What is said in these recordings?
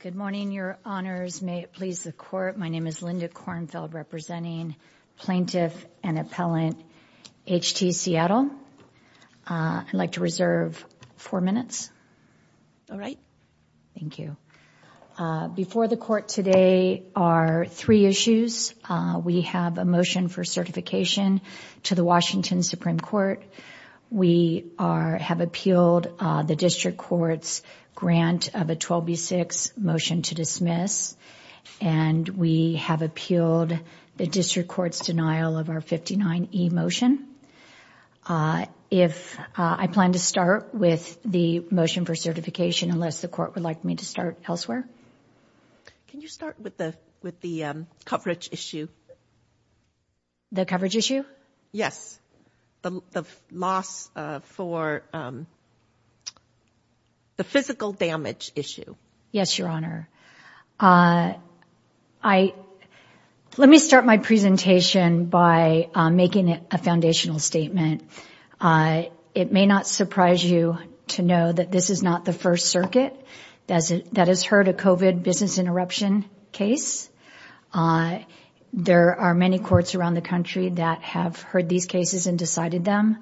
Good morning, your honors. May it please the court. My name is Linda Kornfeld, representing Plaintiff and Appellant H.T. Seattle. I'd like to reserve four minutes. All right. Thank you. Before the court today are three issues. We have a motion for certification to the Washington Supreme Court. We have appealed the district court's grant of a 12B6 motion to dismiss and we have appealed the district court's denial of our 59E motion. I plan to start with the motion for certification, unless the court would like me to start elsewhere. Can you start with the coverage issue? The coverage issue? Yes. The loss for the physical damage issue. Yes, your honor. Let me start my presentation by making a foundational statement. It may not surprise you to know that this is not the first circuit that has heard a COVID business interruption case. There are many courts around the country that have heard these cases and decided them.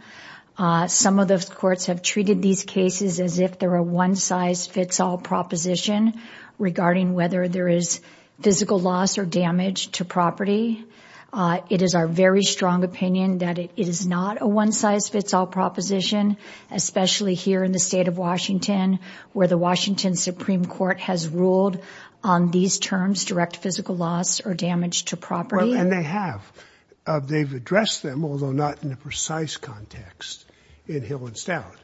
Some of those courts have treated these cases as if they're a one-size-fits-all proposition regarding whether there is physical loss or damage to property. They have. They've addressed them, although not in a precise context, in Hill and Stout.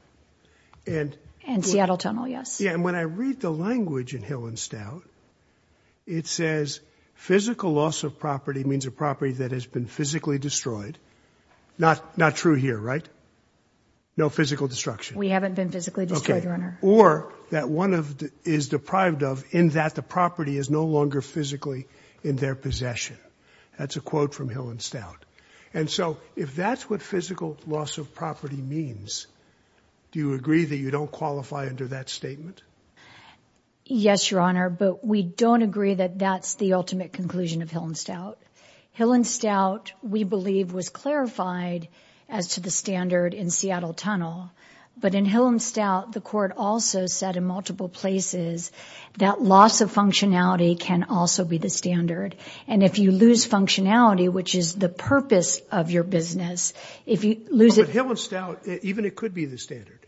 Seattle Tunnel, yes. When I read the language in Hill and Stout, it says physical loss of property means a property that has been physically destroyed. Not true here, right? No physical destruction. We haven't been physically destroyed, your honor. Or that one is deprived of in that the property is no longer physically in their possession. That's a quote from Hill and Stout. And so if that's what physical loss of property means, do you agree that you don't qualify under that statement? Yes, your honor, but we don't agree that that's the ultimate conclusion of Hill and Stout. Hill and Stout, we believe was clarified as to the standard in Seattle Tunnel. But in Hill and Stout, the court also said in multiple places, that loss of functionality can also be the standard. And if you lose functionality, which is the purpose of your business, if you lose it. Hill and Stout, even it could be the standard.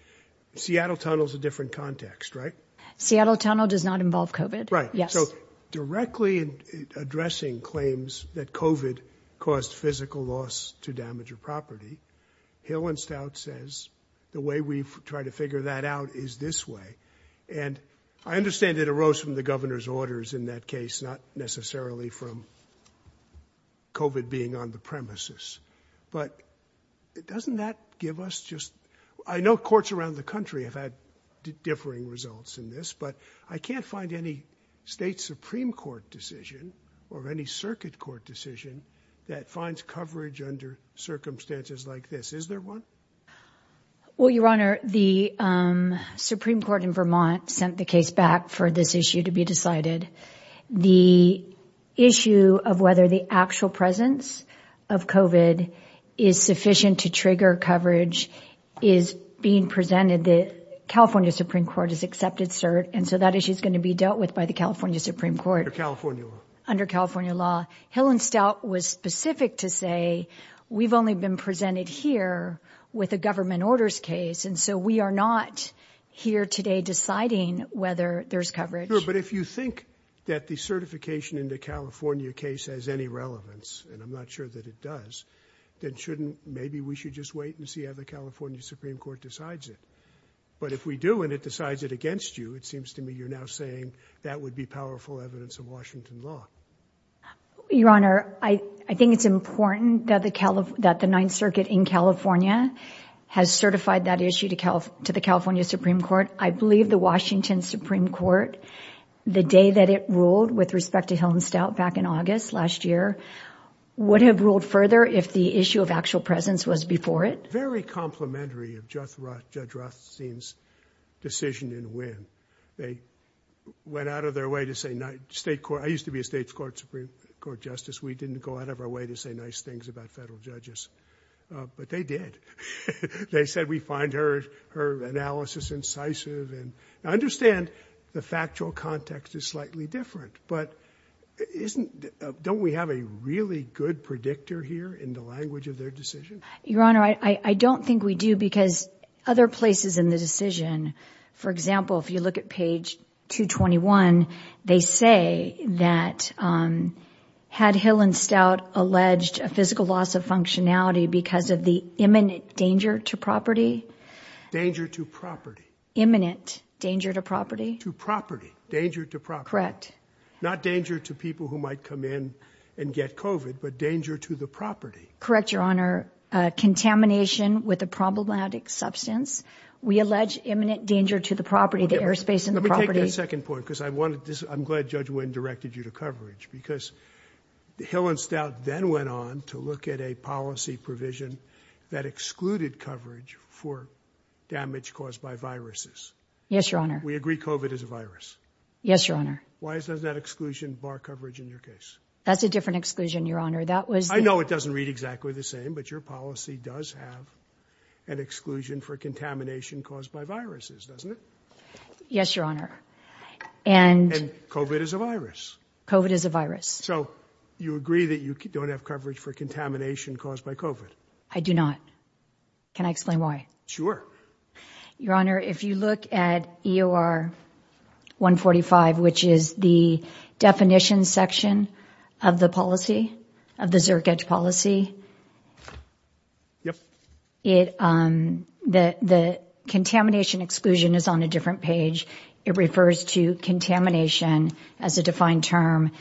Seattle Tunnel is a addressing claims that COVID caused physical loss to damage your property. Hill and Stout says the way we try to figure that out is this way. And I understand it arose from the governor's orders in that case, not necessarily from COVID being on the premises. But it doesn't that give us just I know courts around the country have had differing results in this, but I can't find any state Supreme Court decision, or any circuit court decision that finds coverage under circumstances like this. Is there one? Well, your honor, the Supreme Court in Vermont sent the case back for this issue to be decided. The issue of whether the actual presence of COVID is sufficient to trigger coverage is being presented the California Supreme Court has accepted cert. And so that issue is going to be dealt with by the California Supreme Court or California under California law. Hill and Stout was specific to say, we've only been presented here with a government orders case. And so we are not here today deciding whether there's coverage. But if you think that the certification into California case has any relevance, and I'm not sure that it does, that shouldn't maybe we should just wait and see how the California Supreme Court decides it. But if we do, and it decides it against you, it seems to me you're now saying that would be powerful evidence of Washington law. Your honor, I think it's important that the Cali that the Ninth Circuit in California has certified that issue to Cal to the California Supreme Court, I believe the Washington Supreme Court, the day that it ruled with respect to Hill and Stout back in August last year, would have ruled further if the issue of actual presence was before it very complimentary of Judge Rothstein's decision in Wynn. They went out of their way to say, I used to be a state's court Supreme Court justice. We didn't go out of our way to say nice things about federal judges, but they did. They said, we find her analysis incisive. And I understand the factual context is slightly different, but don't we have a really good predictor here in the language of their decision? Your honor, I don't think we do because other places in the decision, for example, if you look at page 221, they say that, um, had Hill and Stout alleged a physical loss of functionality because of the imminent danger to property, danger to property, imminent danger to property, to property, danger to property, correct. Not danger to people who might come in and get COVID, but danger to the property. Correct. Your honor, uh, contamination with a problematic substance. We allege imminent danger to the property, the airspace in the property. Second point, because I wanted this. I'm glad Judge Wynn directed you to coverage because the Hill and Stout then went on to look at a policy provision that excluded coverage for damage caused by viruses. Yes, your honor. We agree COVID is a virus. Yes, your honor. Why is that exclusion bar coverage in your case? That's a different exclusion, your honor. That was, I know it doesn't read exactly the same, but your policy does have an exclusion for contamination caused by viruses, doesn't it? Yes, your honor. And COVID is a virus. COVID is a virus. So you agree that you don't have coverage for contamination caused by COVID? I do not. Can I explain why? Sure. Your honor, if you look at EOR 145, which is the definition section of the policy, of the Zerk Edge policy. Yep. It, um, the, the contamination exclusion is on a different page. It refers to contamination as a defined term.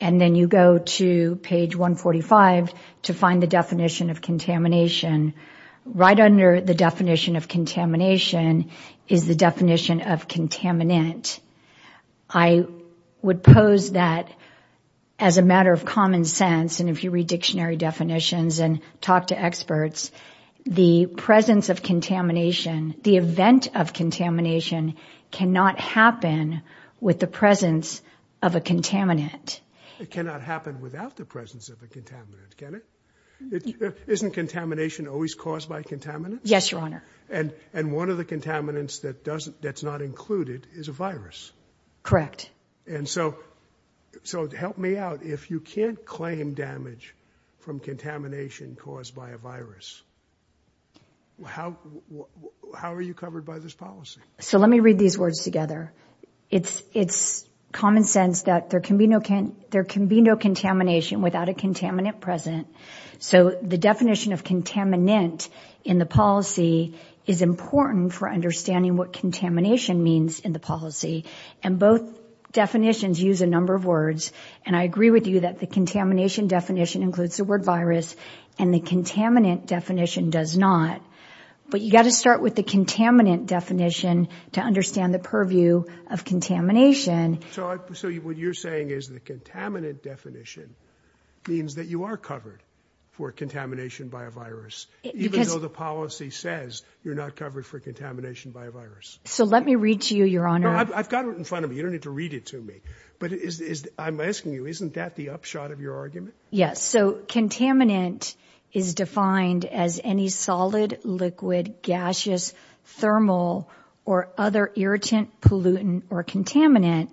And then you go to page 145 to find the definition of contamination right under the definition of contamination is the definition of contaminant. I would pose that as a matter of common sense. And if you read dictionary definitions and talk to experts, the presence of contamination, the event of contamination cannot happen with the presence of a contaminant. It cannot happen without the presence of a contaminant, can it? Isn't contamination always caused by contaminants? Yes, your honor. And, and one of the contaminants that doesn't, that's not included is a virus. Correct. And so, so help me out. If you can't claim damage from contamination caused by a virus, how, how are you covered by this policy? So let me read these words together. It's, it's common sense that there can be no can, there can be no contamination without a contaminant present. So the definition of contaminant in the policy is important for understanding what contamination means in the policy. And both definitions use a number of words. And I agree with you that the contamination definition includes the word virus and the contaminant definition does not. But you got to start with the contaminant definition to understand the purview of contamination. So what you're saying is the contaminant definition means that you are covered for contamination by a virus, even though the policy says you're not covered for contamination by a virus. So let me read to you, your honor. I've got it in front of me. You don't need to read it to me. But is, I'm asking you, isn't that the upshot of your argument? So contaminant is defined as any solid, liquid, gaseous, thermal, or other irritant pollutant or contaminant.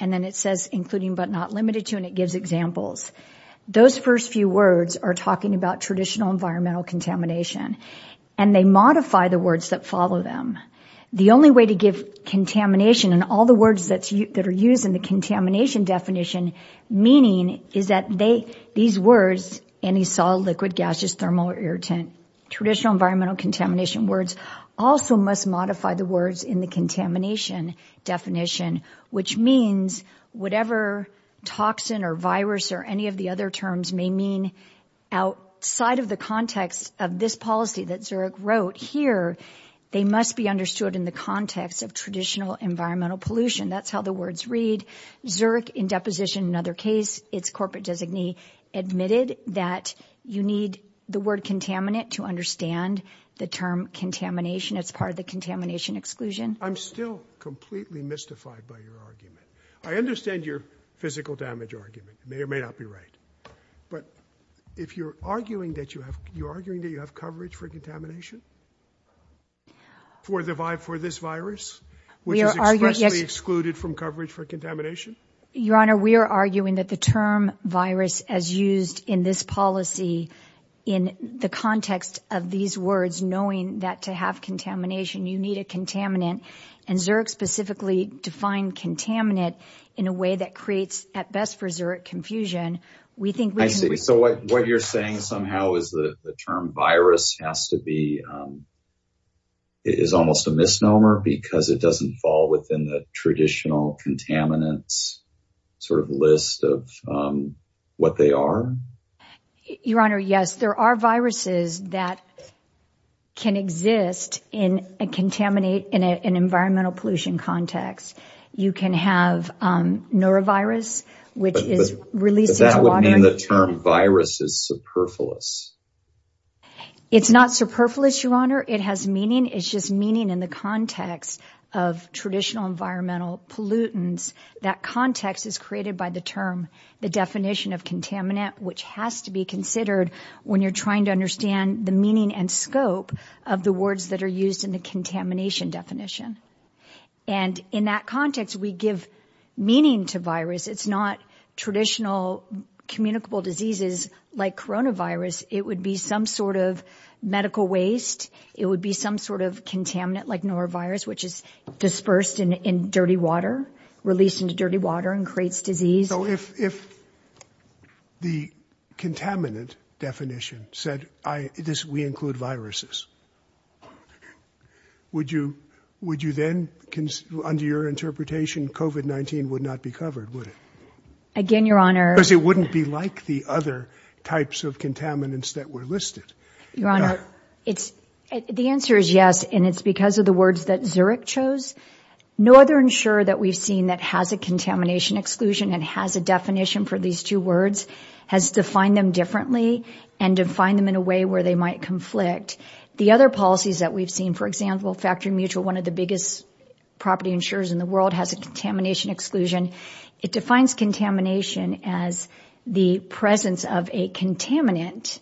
And then it says including, but not limited to, and it gives examples. Those first few words are talking about traditional environmental contamination and they modify the words that follow them. The only way to give contamination and all the words that are used in the contamination definition meaning is that these words, any solid, liquid, gaseous, thermal, or irritant, traditional environmental contamination words also must modify the words in the contamination definition, which means whatever toxin or virus or any of the other terms may mean outside of the context of this policy that Zurich wrote here, they must be understood in the context of traditional environmental pollution. That's how the words read. Zurich in deposition, another case, its corporate designee admitted that you need the word contaminant to understand the term contamination. It's part of the contamination exclusion. I'm still completely mystified by your argument. I understand your physical damage argument may or may not be right. But if you're arguing that you have, you're arguing that you have coverage for contamination for the vibe, for this virus, which is expressly excluded from coverage for contamination. Your Honor, we are arguing that the term virus as used in this policy, in the context of these words, knowing that to have contamination, you need a contaminant and Zurich specifically defined contaminant in a way that creates, at best for Zurich, confusion. We think. I see. So what you're saying somehow is the term virus has to be. It is almost a misnomer because it doesn't fall within the traditional contaminants sort of list of what they are. Your Honor, yes, there are viruses that can exist in a contaminate in an environmental pollution context. You can have norovirus, which is released. That would mean the term virus is superfluous. It's not superfluous, Your Honor. It has meaning. It's just meaning in the context of traditional environmental pollutants. That context is created by the term, the definition of contaminant, which has to be considered when you're trying to understand the meaning and scope of the words that are used in the contamination definition. And in that context, we give meaning to virus. It's not traditional communicable diseases like coronavirus. It would be some sort of medical waste. It would be some sort of contaminant like norovirus, which is dispersed in dirty water, released into dirty water and creates disease. So if the contaminant definition said we include viruses, would you then, under your interpretation, COVID-19 would not be covered, would it? Again, Your Honor. Because it wouldn't be like the other types of contaminants that were listed. Your Honor, the answer is yes. And it's because of the words that Zurich chose. No other insurer that we've seen that has a contamination exclusion and has a definition for these two words has defined them differently and defined them in a way where they might conflict. The other policies that we've seen, for example, Factory Mutual, one of the biggest property insurers in the world, has a contamination exclusion. It defines contamination as the presence of a contaminant.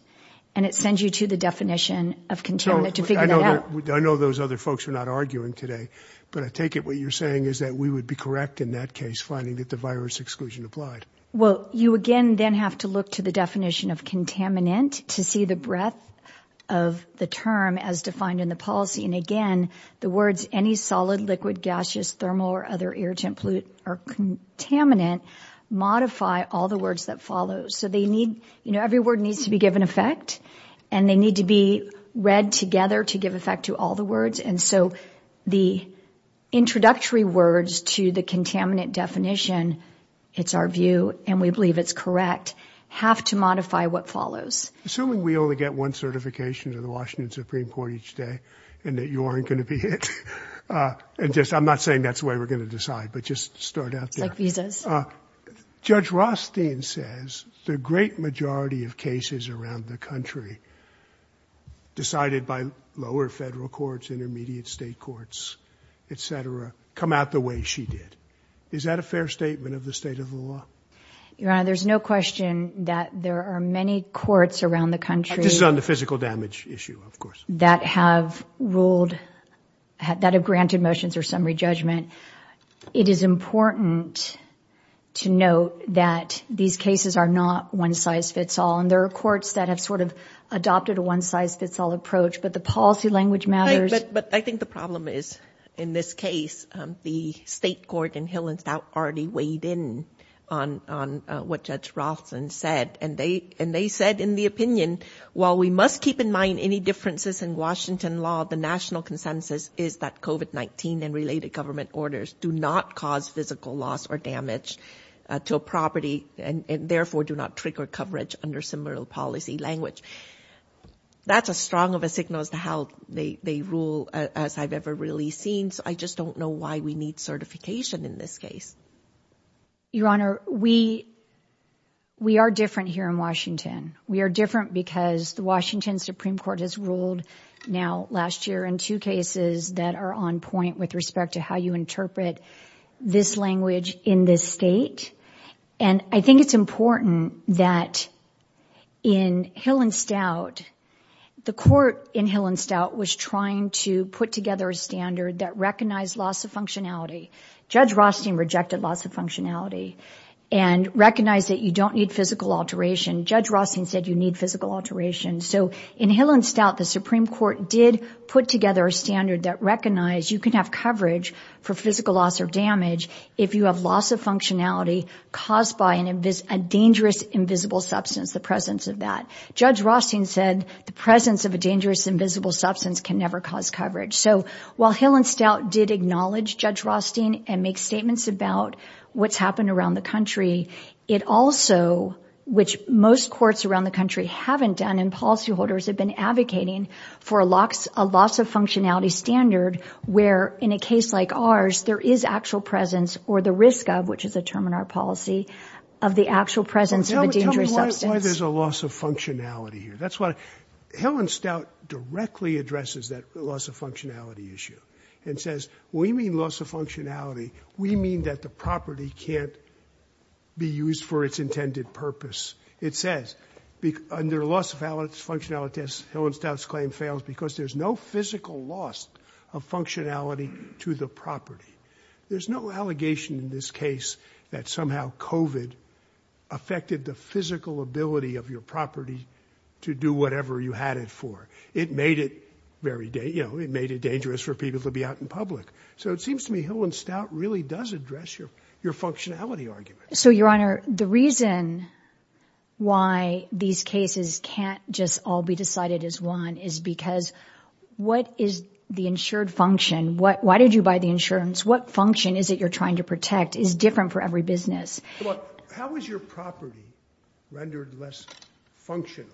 And it sends you to the definition of contaminant to figure that out. I know those other folks are not arguing today, but I take it what you're saying is that we would be correct in that case, finding that the virus exclusion applied. Well, you again then have to look to the definition of contaminant to see the breadth of the term as defined in the policy. And again, the words any solid, liquid, gaseous, thermal or other irritant pollutant or contaminant modify all the words that follow. So they need, you know, every word needs to be given effect and they need to be read together to give effect to all the words. And so the introductory words to the contaminant definition, it's our view and we believe it's correct, have to modify what follows. Assuming we only get one certification to the Washington Supreme Court each day and that you aren't going to be hit. And just I'm not saying that's the way we're going to decide, but just start out there. Judge Rothstein says the great majority of cases around the country decided by lower federal courts, intermediate state courts, et cetera, come out the way she did. Is that a fair statement of the state of the law? Your Honor, there's no question that there are many courts around the country. This is on the physical damage issue, of course. That have ruled, that have granted motions or summary judgment. It is important to note that these cases are not one size fits all. And there are courts that have sort of adopted a one size fits all approach, but the policy language matters. But I think the problem is in this case, the state court in Hill and Stout already weighed in on what Judge Rothstein said. And they said in the opinion, while we must keep in mind any differences in government orders do not cause physical loss or damage to a property and therefore do not trigger coverage under similar policy language. That's a strong of a signal as to how they rule as I've ever really seen. So I just don't know why we need certification in this case. Your Honor, we are different here in Washington. We are different because the Washington Supreme Court has ruled now last year in two cases that are on point with respect to how you interpret this language in this state. And I think it's important that in Hill and Stout, the court in Hill and Stout was trying to put together a standard that recognized loss of functionality. Judge Rothstein rejected loss of functionality and recognized that you don't need physical alteration. Judge Rothstein said you need physical alteration. So in Hill and Stout, the Supreme Court did put together a standard that recognized you can have coverage for physical loss or damage if you have loss of functionality caused by a dangerous, invisible substance, the presence of that. Judge Rothstein said the presence of a dangerous, invisible substance can never cause coverage. So while Hill and Stout did acknowledge Judge Rothstein and make statements about what's happened around the country, it also, which most courts around the country and policyholders have been advocating for a loss of functionality standard where in a case like ours, there is actual presence or the risk of, which is a term in our policy, of the actual presence of a dangerous substance. Tell me why there's a loss of functionality here. That's what Hill and Stout directly addresses that loss of functionality issue and says, we mean loss of functionality. We mean that the property can't be used for its intended purpose. It says under loss of functionality as Hill and Stout's claim fails because there's no physical loss of functionality to the property. There's no allegation in this case that somehow COVID affected the physical ability of your property to do whatever you had it for. It made it very, you know, it made it dangerous for people to be out in public. So it seems to me Hill and Stout really does address your functionality argument. So your honor, the reason why these cases can't just all be decided as one is because what is the insured function? What, why did you buy the insurance? What function is it you're trying to protect is different for every business. How was your property rendered less functional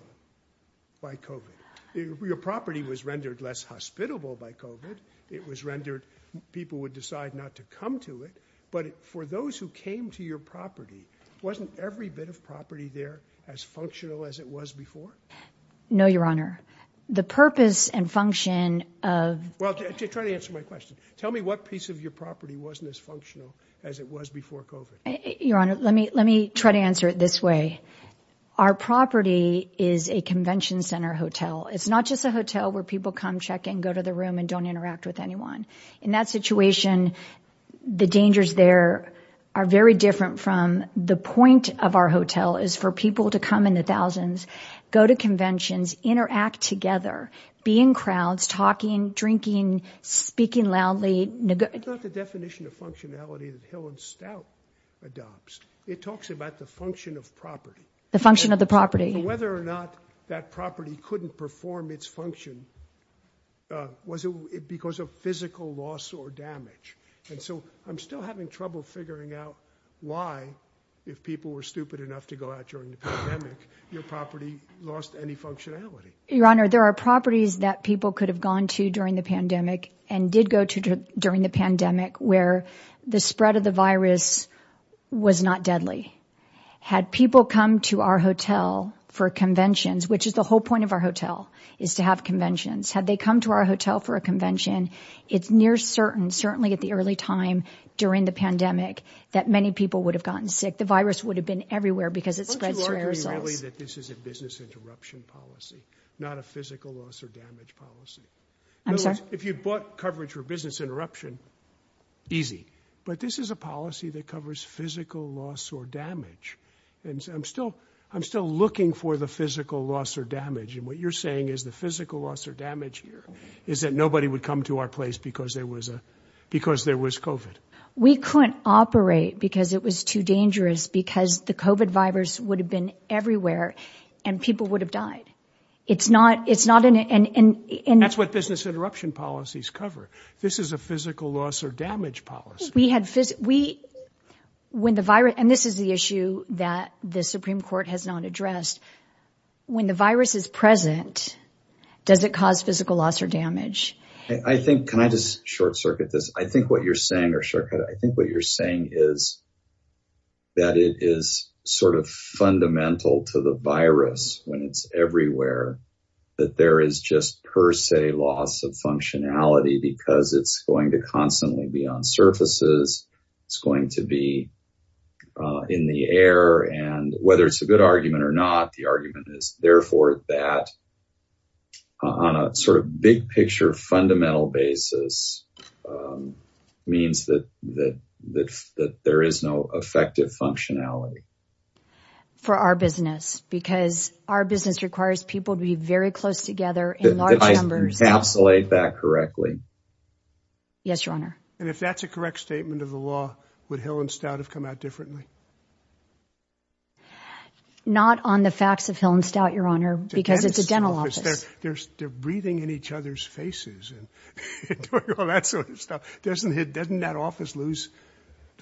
by COVID? Your property was rendered less hospitable by COVID. It was rendered, people would decide not to come to it. But for those who came to your property, wasn't every bit of property there as functional as it was before? No, your honor, the purpose and function of, well, try to answer my question. Tell me what piece of your property wasn't as functional as it was before COVID. Your honor, let me let me try to answer it this way. Our property is a convention center hotel. It's not just a hotel where people come check in, go to the room and don't interact with anyone in that situation. The dangers there are very different from the point of our hotel is for people to come in the thousands, go to conventions, interact together, be in crowds, talking, drinking, speaking loudly. It's not the definition of functionality that Hill and Stout adopts. It talks about the function of property. The function of the property. Whether or not that property couldn't perform its function was because of physical loss or damage. And so I'm still having trouble figuring out why, if people were stupid enough to go out during the pandemic, your property lost any functionality. Your honor, there are properties that people could have gone to during the pandemic and did go to during the pandemic where the spread of the virus was not deadly. Had people come to our hotel for conventions, which is the whole point of our hotel, is to have conventions. Had they come to our hotel for a convention, it's near certain, certainly at the early time during the pandemic, that many people would have gotten sick. The virus would have been everywhere because it's spread through aerosols. Don't you argue really that this is a business interruption policy, not a physical loss or damage policy? I'm sorry? If you bought coverage for business interruption. Easy. But this is a policy that covers physical loss or damage. And I'm still I'm still looking for the physical loss or damage. And what you're saying is the physical loss or damage here is that nobody would come to our because there was covid. We couldn't operate because it was too dangerous, because the covid virus would have been everywhere and people would have died. It's not it's not an and that's what business interruption policies cover. This is a physical loss or damage policy. We had we when the virus and this is the issue that the Supreme Court has not addressed. I think can I just short circuit this? I think what you're saying or shortcut, I think what you're saying is. That it is sort of fundamental to the virus when it's everywhere, that there is just per se loss of functionality because it's going to constantly be on surfaces, it's going to be in the air. And whether it's a good argument or not, the argument is, therefore, that. On a sort of big picture, fundamental basis means that that that that there is no effective functionality for our business, because our business requires people to be very close together in large numbers, absolute that correctly. Yes, your honor, and if that's a correct statement of the law, would Hill and Stout have come out differently? Not on the facts of Hill and Stout, your honor, because it's a dental office, there's they're breathing in each other's faces and all that sort of stuff. Doesn't it doesn't that office lose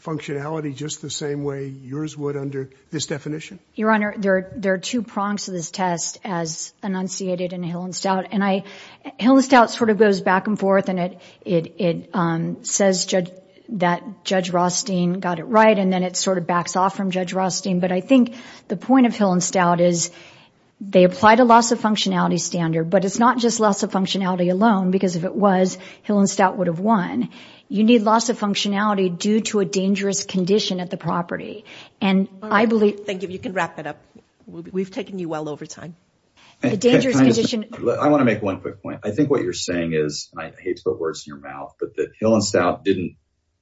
functionality just the same way yours would under this definition? Your honor, there are two prongs to this test as enunciated in Hill and Stout. And I Hill and Stout sort of goes back and forth. And it it says that Judge Rothstein got it right. And then it sort of backs off from Judge Rothstein. But I think the point of Hill and Stout is they apply to loss of functionality standard. But it's not just loss of functionality alone, because if it was Hill and Stout would have won. You need loss of functionality due to a dangerous condition at the property. And I believe. Thank you. You can wrap it up. We've taken you well over time. The dangerous condition. I want to make one quick point. I think what you're saying is I hate to put words in your mouth, but that Hill and Stout didn't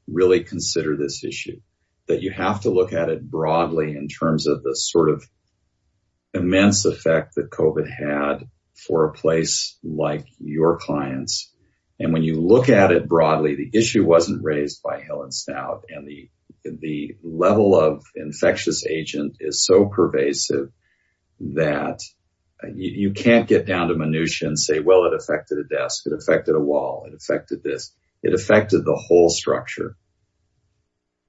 really consider this issue, that you have to look at it broadly in terms of the sort of immense effect that COVID had for a place like your clients. And when you look at it broadly, the issue wasn't raised by Hill and Stout. And the level of infectious agent is so pervasive that you can't get down to minutia and say, well, it affected a desk. It affected a wall. It affected this. It affected the whole structure.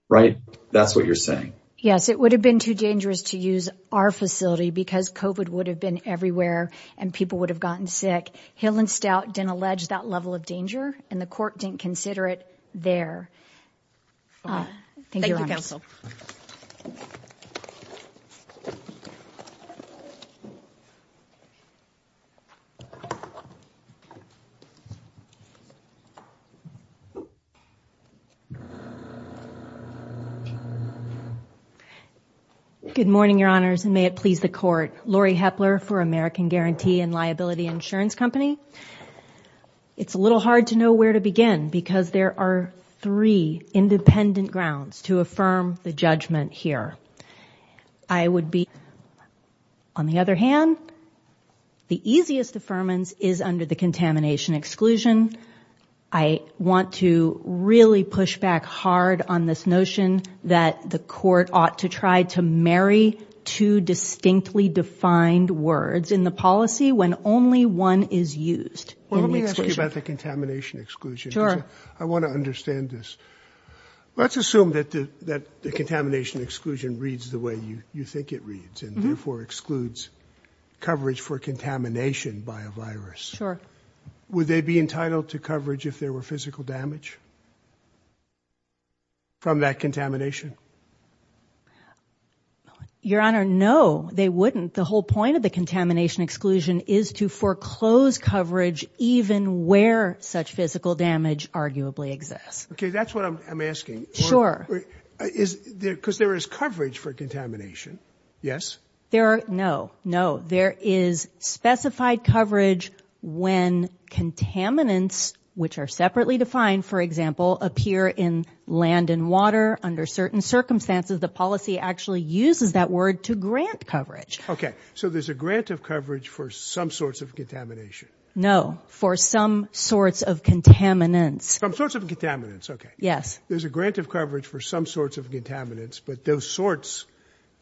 Right. That's what you're saying. Yes, it would have been too dangerous to use our facility because COVID would have been everywhere and people would have gotten sick. Hill and Stout didn't allege that level of danger and the court didn't consider it there. Thank you, counsel. Good morning, your honors, and may it please the court. Lori Hepler for American Guarantee and Liability Insurance Company. It's a little hard to know where to begin because there are three independent grounds to affirm the judgment here. I would be on the other hand, the easiest affirmance is under the contamination want to really push back hard on this notion that the court ought to try to marry two distinctly defined words in the policy when only one is used. Well, let me ask you about the contamination exclusion. I want to understand this. Let's assume that that the contamination exclusion reads the way you think it reads and therefore excludes coverage for contamination by a virus. Sure. Would they be entitled to coverage if there were physical damage? From that contamination. Your honor, no, they wouldn't. The whole point of the contamination exclusion is to foreclose coverage, even where such physical damage arguably exists. OK, that's what I'm asking. Sure. Because there is coverage for contamination. Yes, there are. No, no. There is specified coverage when contaminants, which are separately defined, for example, appear in land and water under certain circumstances. The policy actually uses that word to grant coverage. OK, so there's a grant of coverage for some sorts of contamination. No, for some sorts of contaminants, some sorts of contaminants. OK, yes, there's a grant of coverage for some sorts of contaminants. But those sorts,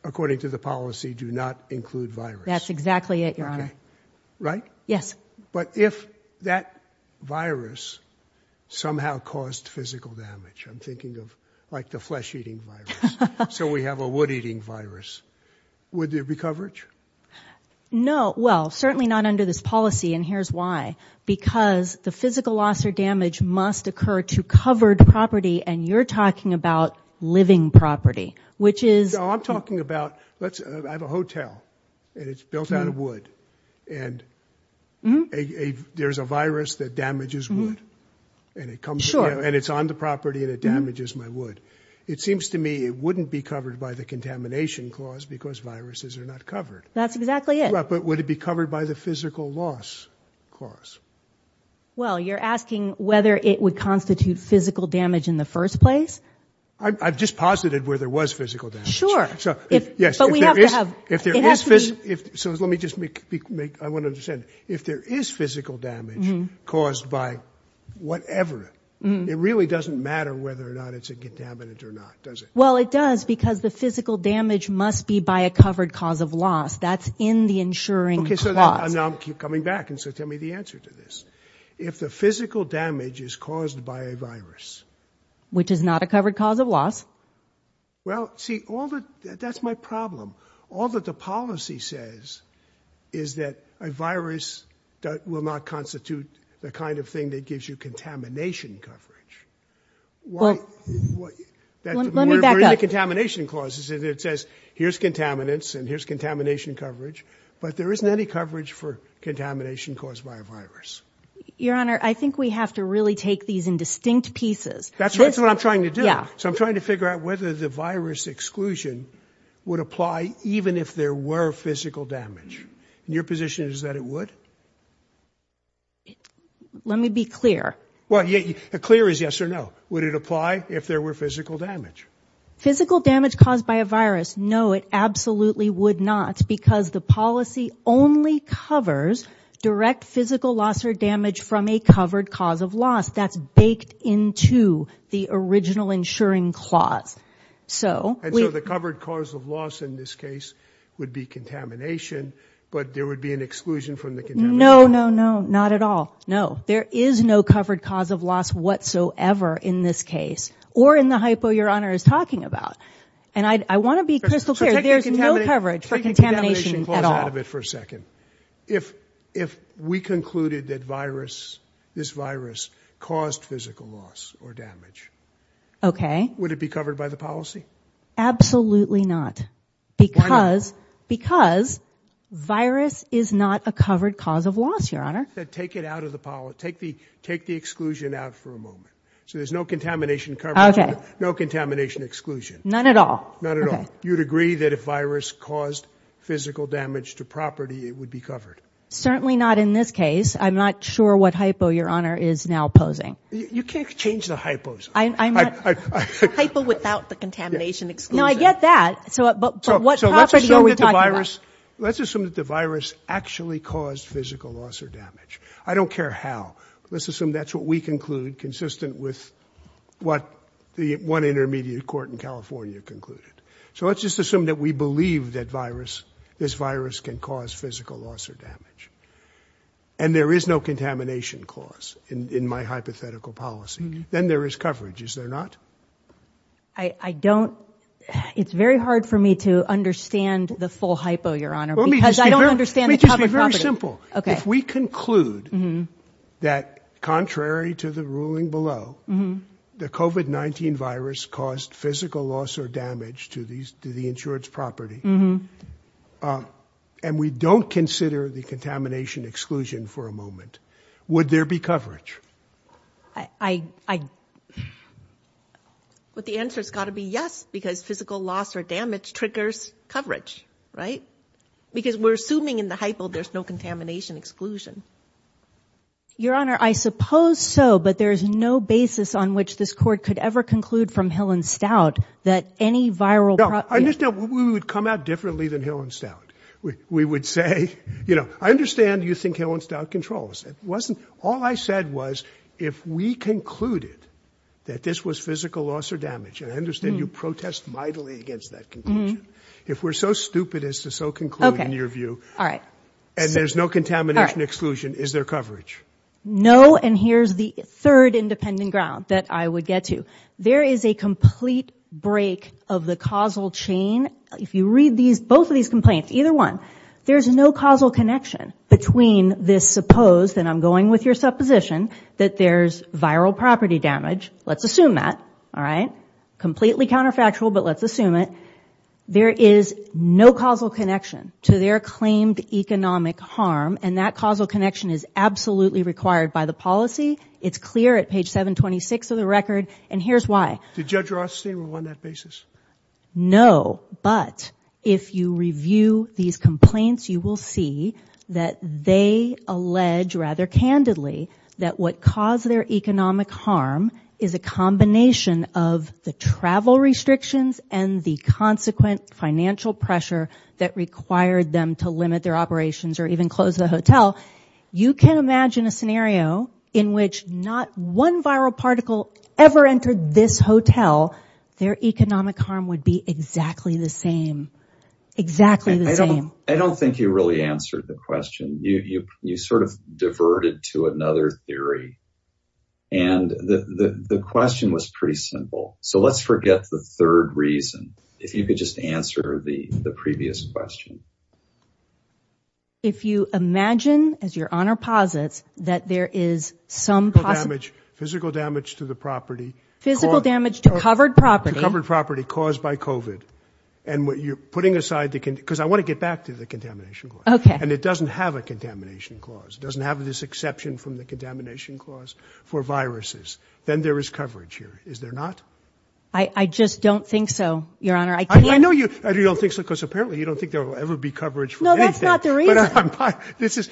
according to the policy, do not include virus. That's exactly it, your honor. Right. Yes. But if that virus somehow caused physical damage, I'm thinking of like the flesh eating virus. So we have a wood eating virus. Would there be coverage? No. Well, certainly not under this policy. And here's why. Because the physical loss or damage must occur to covered property. And you're talking about living property, which is. I'm talking about let's have a hotel and it's built out of wood and there's a virus that damages wood and it comes and it's on the property and it damages my wood. It seems to me it wouldn't be covered by the contamination clause because viruses are not covered. That's exactly it. But would it be covered by the physical loss clause? Well, you're asking whether it would constitute physical damage in the first place. I've just posited where there was physical damage. Sure. So, yes, but we have to have if there is if so, let me just make I want to understand if there is physical damage caused by whatever. It really doesn't matter whether or not it's a contaminant or not, does it? Well, it does, because the physical damage must be by a covered cause of loss. That's in the insuring. OK, so now I'm coming back. And so tell me the answer to this. If the physical damage is caused by a virus, which is not a covered cause of loss. Well, see all that, that's my problem. All that the policy says is that a virus that will not constitute the kind of thing that gives you contamination coverage. Well, let me back up. Contamination clauses, it says here's contaminants and here's contamination coverage. But there isn't any coverage for contamination caused by a virus. Your Honor, I think we have to really take these in distinct pieces. That's what I'm trying to do. Yeah. So I'm trying to figure out whether the virus exclusion would apply even if there were physical damage. Your position is that it would. Let me be clear. Well, the clear is yes or no. Physical damage caused by a virus? No, it absolutely would not, because the policy only covers direct physical loss or damage from a covered cause of loss. That's baked into the original insuring clause. So the covered cause of loss in this case would be contamination, but there would be an exclusion from the. No, no, no, not at all. No, there is no covered cause of loss whatsoever in this case or in the hypo your crystal clear. There's no coverage for contamination out of it for a second. If if we concluded that virus, this virus caused physical loss or damage, OK, would it be covered by the policy? Absolutely not, because because virus is not a covered cause of loss. Your Honor, take it out of the take the take the exclusion out for a moment. So there's no contamination, no contamination exclusion, none at all. Not at all. You'd agree that if virus caused physical damage to property, it would be covered. Certainly not in this case. I'm not sure what hypo your honor is now posing. You can't change the hypos. I'm a hypo without the contamination. No, I get that. So what property are we talking about? Let's assume that the virus actually caused physical loss or damage. I don't care how. Let's assume that's what we conclude, consistent with what the one intermediate court in California concluded. So let's just assume that we believe that virus, this virus can cause physical loss or damage. And there is no contamination cause in my hypothetical policy. Then there is coverage, is there not? I don't it's very hard for me to understand the full hypo, your honor, because I don't understand. Let me just be very simple. If we conclude that contrary to the ruling below, the COVID-19 virus caused physical loss or damage to these to the insured's property. And we don't consider the contamination exclusion for a moment. Would there be coverage? I, I. But the answer has got to be yes, because physical loss or damage triggers coverage. Right, because we're assuming in the hypo there's no contamination exclusion. Your honor, I suppose so, but there is no basis on which this court could ever conclude from Hill and Stout that any viral. I just know we would come out differently than Hill and Stout. We would say, you know, I understand you think Hill and Stout controls. It wasn't. All I said was, if we concluded that this was physical loss or damage, I understand you protest mightily against that. If we're so stupid as to so conclude in your view. All right. And there's no contamination exclusion. Is there coverage? No. And here's the third independent ground that I would get to. There is a complete break of the causal chain. If you read these, both of these complaints, either one, there's no causal connection between this supposed and I'm going with your supposition that there's viral property damage. Let's assume that. All right. Completely counterfactual, but let's assume it. There is no causal connection to their claimed economic harm, and that causal connection is absolutely required by the policy. It's clear at page 726 of the record. And here's why. Did Judge Rothstein run that basis? No. But if you review these complaints, you will see that they allege rather candidly that what caused their economic harm is a combination of the travel restrictions and the consequent financial pressure that required them to limit their operations or even close the hotel. You can imagine a scenario in which not one viral particle ever entered this hotel. Their economic harm would be exactly the same. Exactly the same. I don't think you really answered the question. You sort of diverted to another theory. And the question was pretty simple. So let's forget the third reason. If you could just answer the previous question. If you imagine, as your honor posits, that there is some damage, physical damage to the property, physical damage to covered property, covered property caused by covid and what you're putting aside, because I want to get back to the contamination. And it doesn't have a contamination clause. It doesn't have this exception from the contamination clause for viruses. Then there is coverage here. Is there not? I just don't think so, your honor. I know you don't think so, because apparently you don't think there will ever be coverage. No, that's not the reason. This is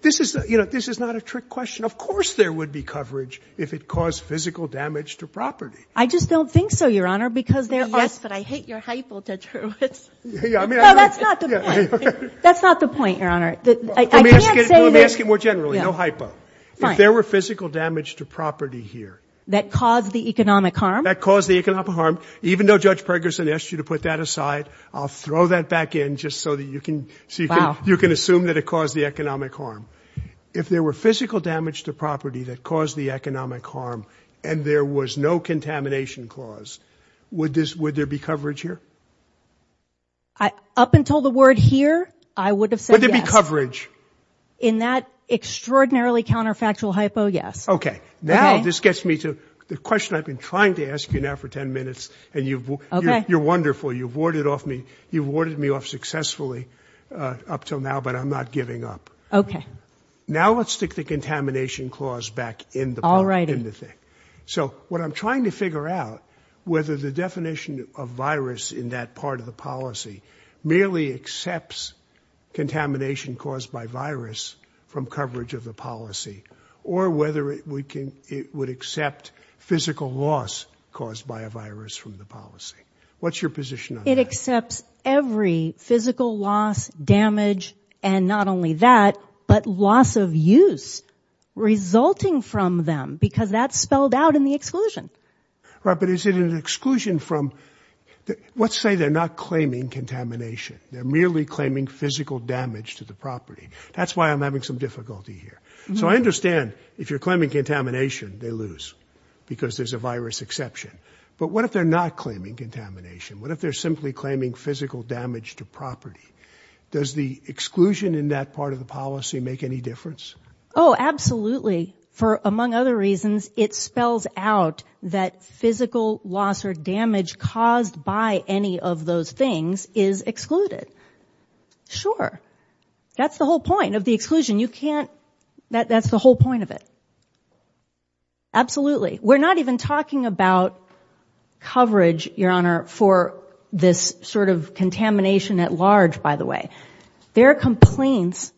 this is this is not a trick question. Of course, there would be coverage if it caused physical damage to property. I just don't think so, your honor, because there is. But I hate your hypo. Yeah, I mean, that's not that's not the point. Your honor, let me ask you more generally. If there were physical damage to property here that caused the economic harm that caused the economic harm, even though Judge Ferguson asked you to put that aside, I'll throw that back in just so that you can see how you can assume that it caused the economic harm. If there were physical damage to property that caused the economic harm and there was no contamination clause, would this would there be coverage here? I up until the word here, I would have said there'd be coverage in that extraordinarily counterfactual hypo. Yes. OK, now this gets me to the question I've been trying to ask you now for 10 minutes and you've you're wonderful. You've warded off me. You've warded me off successfully up till now, but I'm not giving up. OK, now let's stick the contamination clause back in the all right in the thing. So what I'm trying to figure out, whether the definition of virus in that part of the policy merely accepts contamination caused by virus from coverage of the policy or whether we can it would accept physical loss caused by a virus from the policy. What's your position? It accepts every physical loss, damage and not only that, but loss of use resulting from them because that's spelled out in the exclusion. Right. But is it an exclusion from what say they're not claiming contamination? They're merely claiming physical damage to the property. That's why I'm having some difficulty here. So I understand if you're claiming contamination, they lose because there's a virus exception. But what if they're not claiming contamination? What if they're simply claiming physical damage to property? Does the exclusion in that part of the policy make any difference? Oh, absolutely. For among other reasons, it spells out that physical loss or damage caused by any of those things is excluded. Sure. That's the whole point of the exclusion. You can't. That's the whole point of it. Absolutely. We're not even talking about coverage, Your Honor, for this sort of contamination at large, by the way. Their complaints,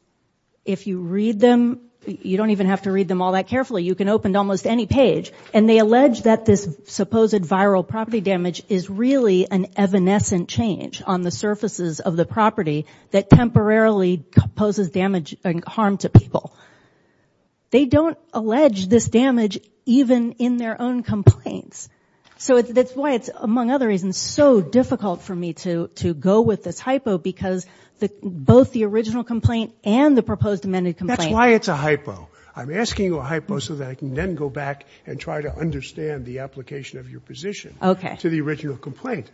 if you read them, you don't even have to read them all that carefully. You can open almost any page and they allege that this supposed viral property damage is really an evanescent change on the surfaces of the property that temporarily poses damage and harm to people. They don't allege this damage even in their own complaints. So that's why it's, among other reasons, so difficult for me to to go with this both the original complaint and the proposed amended complaint. That's why it's a hypo. I'm asking a hypo so that I can then go back and try to understand the application of your position to the original complaint.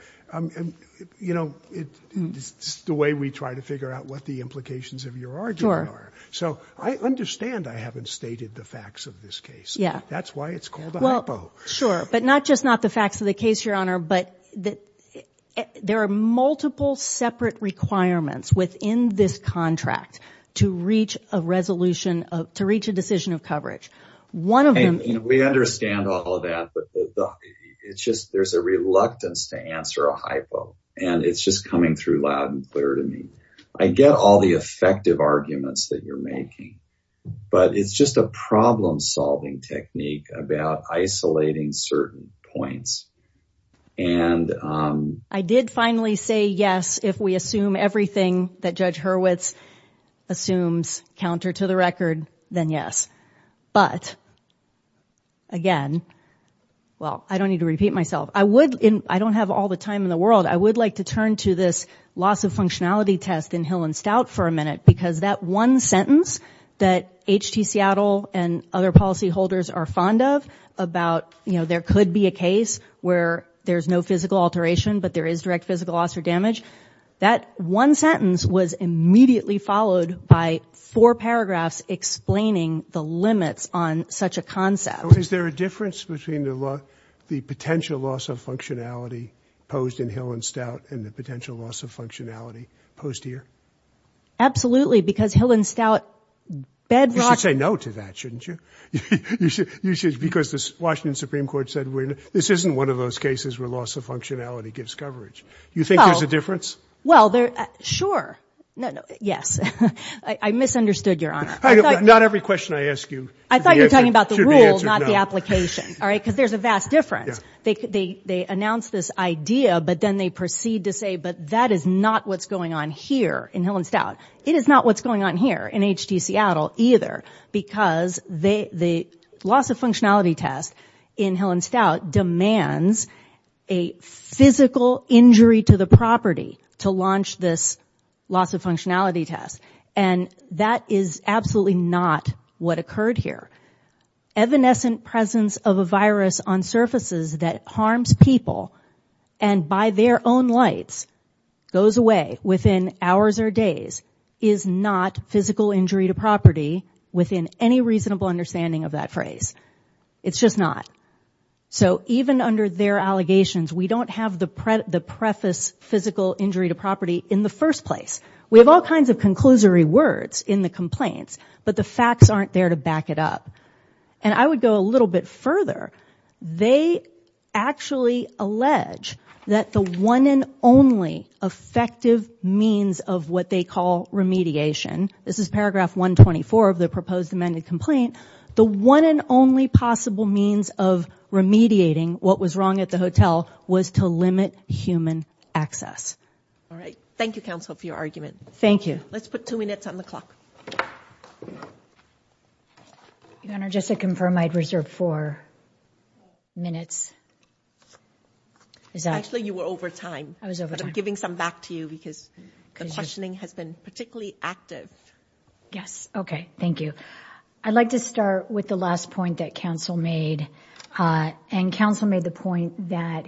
You know, it's the way we try to figure out what the implications of your argument are. So I understand I haven't stated the facts of this case. Yeah. That's why it's called a hypo. Sure. But not just not the facts of the case, Your Honor, but that there are several factors in this contract to reach a resolution, to reach a decision of coverage. One of them. We understand all of that, but it's just there's a reluctance to answer a hypo and it's just coming through loud and clear to me. I get all the effective arguments that you're making, but it's just a problem solving technique about isolating certain points. And I did finally say yes, if we assume everything that Judge Hurwitz assumes counter to the record, then yes. But. Again, well, I don't need to repeat myself. I would I don't have all the time in the world. I would like to turn to this loss of functionality test in Hill and Stout for a minute, because that one sentence that H.T. Seattle and other policyholders are fond of about, you know, there could be a case where there's no physical alteration, but there is direct physical loss or damage. That one sentence was immediately followed by four paragraphs explaining the limits on such a concept. Is there a difference between the potential loss of functionality posed in Hill and Stout and the potential loss of functionality posed here? Absolutely, because Hill and Stout bedrock. You should say no to that, shouldn't you? You should. You should. Because the Washington Supreme Court said this isn't one of those cases where loss of functionality gives coverage. You think there's a difference? Well, they're sure. No, no. Yes. I misunderstood your honor. Not every question I ask you. I thought you were talking about the rules, not the application. All right. Because there's a vast difference. They they announce this idea, but then they proceed to say, but that is not what's going on here in Hill and Stout. It is not what's going on here in H.D. Seattle either, because the loss of functionality test in Hill and Stout demands a physical injury to the property to launch this loss of functionality test. And that is absolutely not what occurred here. Evanescent presence of a virus on surfaces that harms people and by their own lights goes away within hours or days is not physical injury to property within any reasonable understanding of that phrase. It's just not. So even under their allegations, we don't have the preface physical injury to property in the first place. We have all kinds of conclusory words in the complaints, but the facts aren't there to back it up. And I would go a little bit further. They actually allege that the one and only effective means of what they call remediation. This is paragraph 124 of the proposed amended complaint. The one and only possible means of remediating what was wrong at the hotel was to limit human access. All right. Thank you, counsel, for your argument. Your Honor, just to confirm, I'd reserve four minutes. Actually, you were over time. I was over. I'm giving some back to you because the questioning has been particularly active. Yes. Okay. Thank you. I'd like to start with the last point that counsel made and counsel made the point that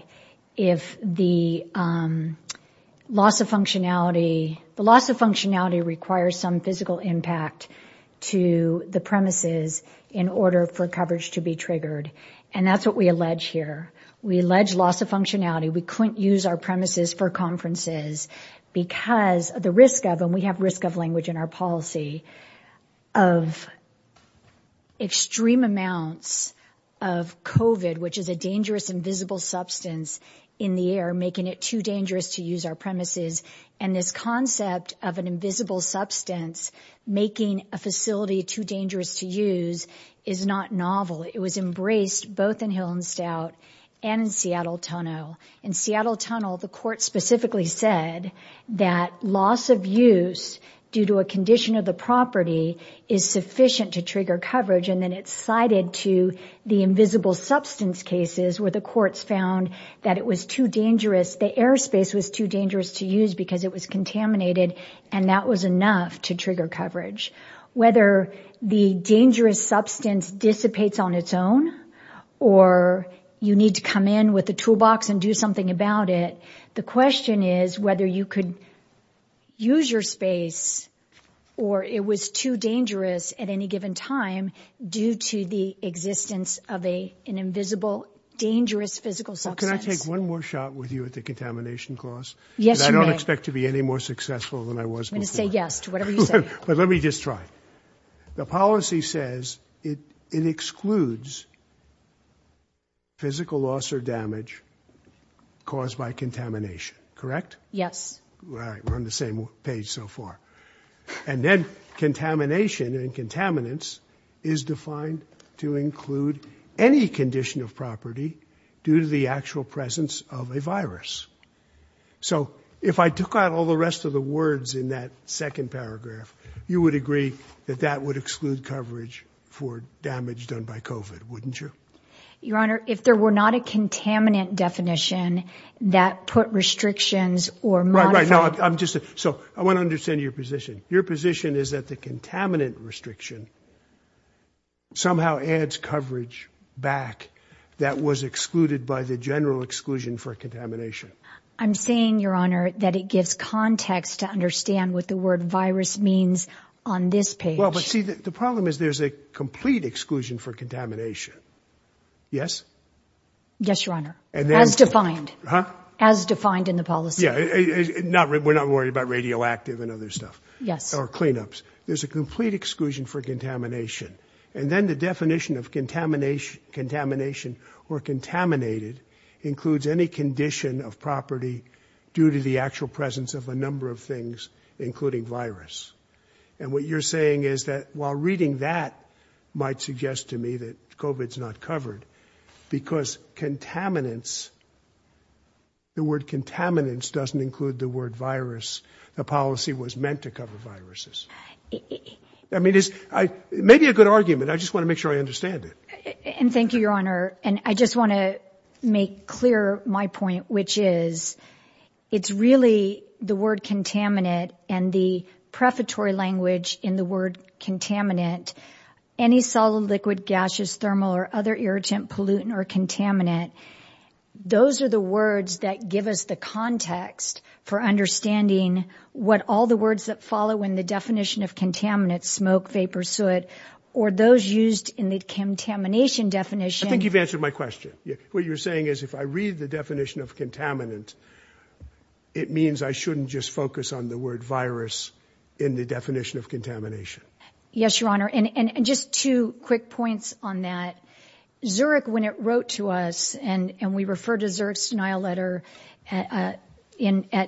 if the loss of functionality, the loss of functionality requires some physical impact to the premises in order for coverage to be triggered. And that's what we allege here. We allege loss of functionality. We couldn't use our premises for conferences because of the risk of and we have risk of language in our policy of extreme amounts of COVID, which is a dangerous, invisible substance in the air, making it too dangerous to use our premises. And this concept of an invisible substance making a facility too dangerous to use is not novel. It was embraced both in Hillenstout and Seattle Tunnel. In Seattle Tunnel, the court specifically said that loss of use due to a condition of the property is sufficient to trigger coverage. And then it's cited to the invisible substance cases where the courts found that it was too dangerous. The airspace was too dangerous to use because it was contaminated and that was enough to trigger coverage. Whether the dangerous substance dissipates on its own or you need to come in with a toolbox and do something about it. The question is whether you could use your space or it was too dangerous at any given time due to the existence of a an invisible, dangerous physical substance. Let me take one more shot with you at the contamination clause. Yes, I don't expect to be any more successful than I was going to say yes to whatever you said, but let me just try. The policy says it excludes. Physical loss or damage caused by contamination, correct? Yes. Right. We're on the same page so far. And then contamination and contaminants is defined to include any condition of property due to the actual presence of a virus. So if I took out all the rest of the words in that second paragraph, you would agree that that would exclude coverage for damage done by COVID, wouldn't you? Your Honor, if there were not a contaminant definition that put restrictions or. Right, right. No, I'm just so I want to understand your position. Your position is that the contaminant restriction. Somehow adds coverage back that was excluded by the general exclusion for contamination. I'm saying, Your Honor, that it gives context to understand what the word virus means on this page. Well, but see, the problem is there's a complete exclusion for contamination. Yes. Yes, Your Honor. And that's defined as defined in the policy. Yeah, not we're not worried about radioactive and other stuff. Yes. Or cleanups. There's a complete exclusion for contamination. And then the definition of contamination, contamination or contaminated includes any condition of property due to the actual presence of a number of things, including virus. And what you're saying is that while reading that might suggest to me that COVID is not covered because contaminants. The word contaminants doesn't include the word virus, the policy was meant to cover viruses. I mean, it's maybe a good argument. I just want to make sure I understand it. And thank you, Your Honor. And I just want to make clear my point, which is it's really the word contaminant and the prefatory language in the word contaminant. Any solid, liquid, gaseous, thermal or other irritant, pollutant or contaminant. Those are the words that give us the context for understanding what all the words that follow in the definition of contaminants, smoke, vapor, soot or those used in the contamination definition. I think you've answered my question. What you're saying is if I read the definition of contaminant, it means I shouldn't just focus on the word virus in the definition of contamination. Yes, Your Honor. And just two quick points on that. Zurich, when it wrote to us and we refer to Zurich's denial letter at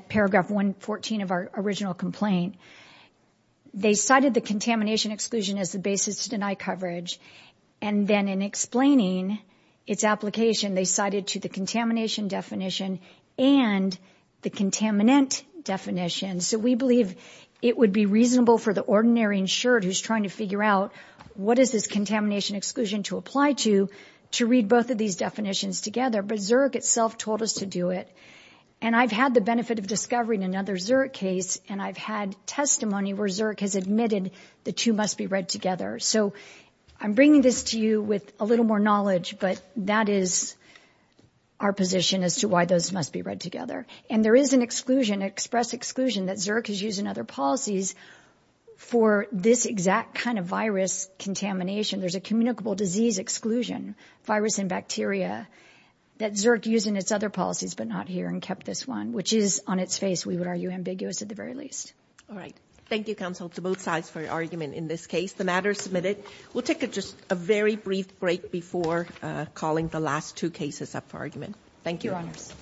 paragraph 114 of our original complaint, they cited the contamination exclusion as the basis to deny coverage. And then in explaining its application, they cited to the contamination definition and the contaminant definition. So we believe it would be reasonable for the ordinary insured who's trying to figure out what is this contamination exclusion to apply to, to read both of these definitions together. But Zurich itself told us to do it. And I've had the benefit of discovering another Zurich case and I've had testimony where Zurich has admitted the two must be read together. So I'm bringing this to you with a little more knowledge, but that is our position as to why those must be read together. And there is an exclusion, express exclusion that Zurich is using other policies for this exact kind of virus contamination. There's a communicable disease exclusion virus and bacteria that Zurich using its other policies, but not here and kept this one, which is on its face, we would argue, ambiguous at the very least. All right. Thank you, counsel, to both sides for your argument in this case. The matter is submitted. We'll take just a very brief break before calling the last two Thank you, Your Honors. Five, seven minutes.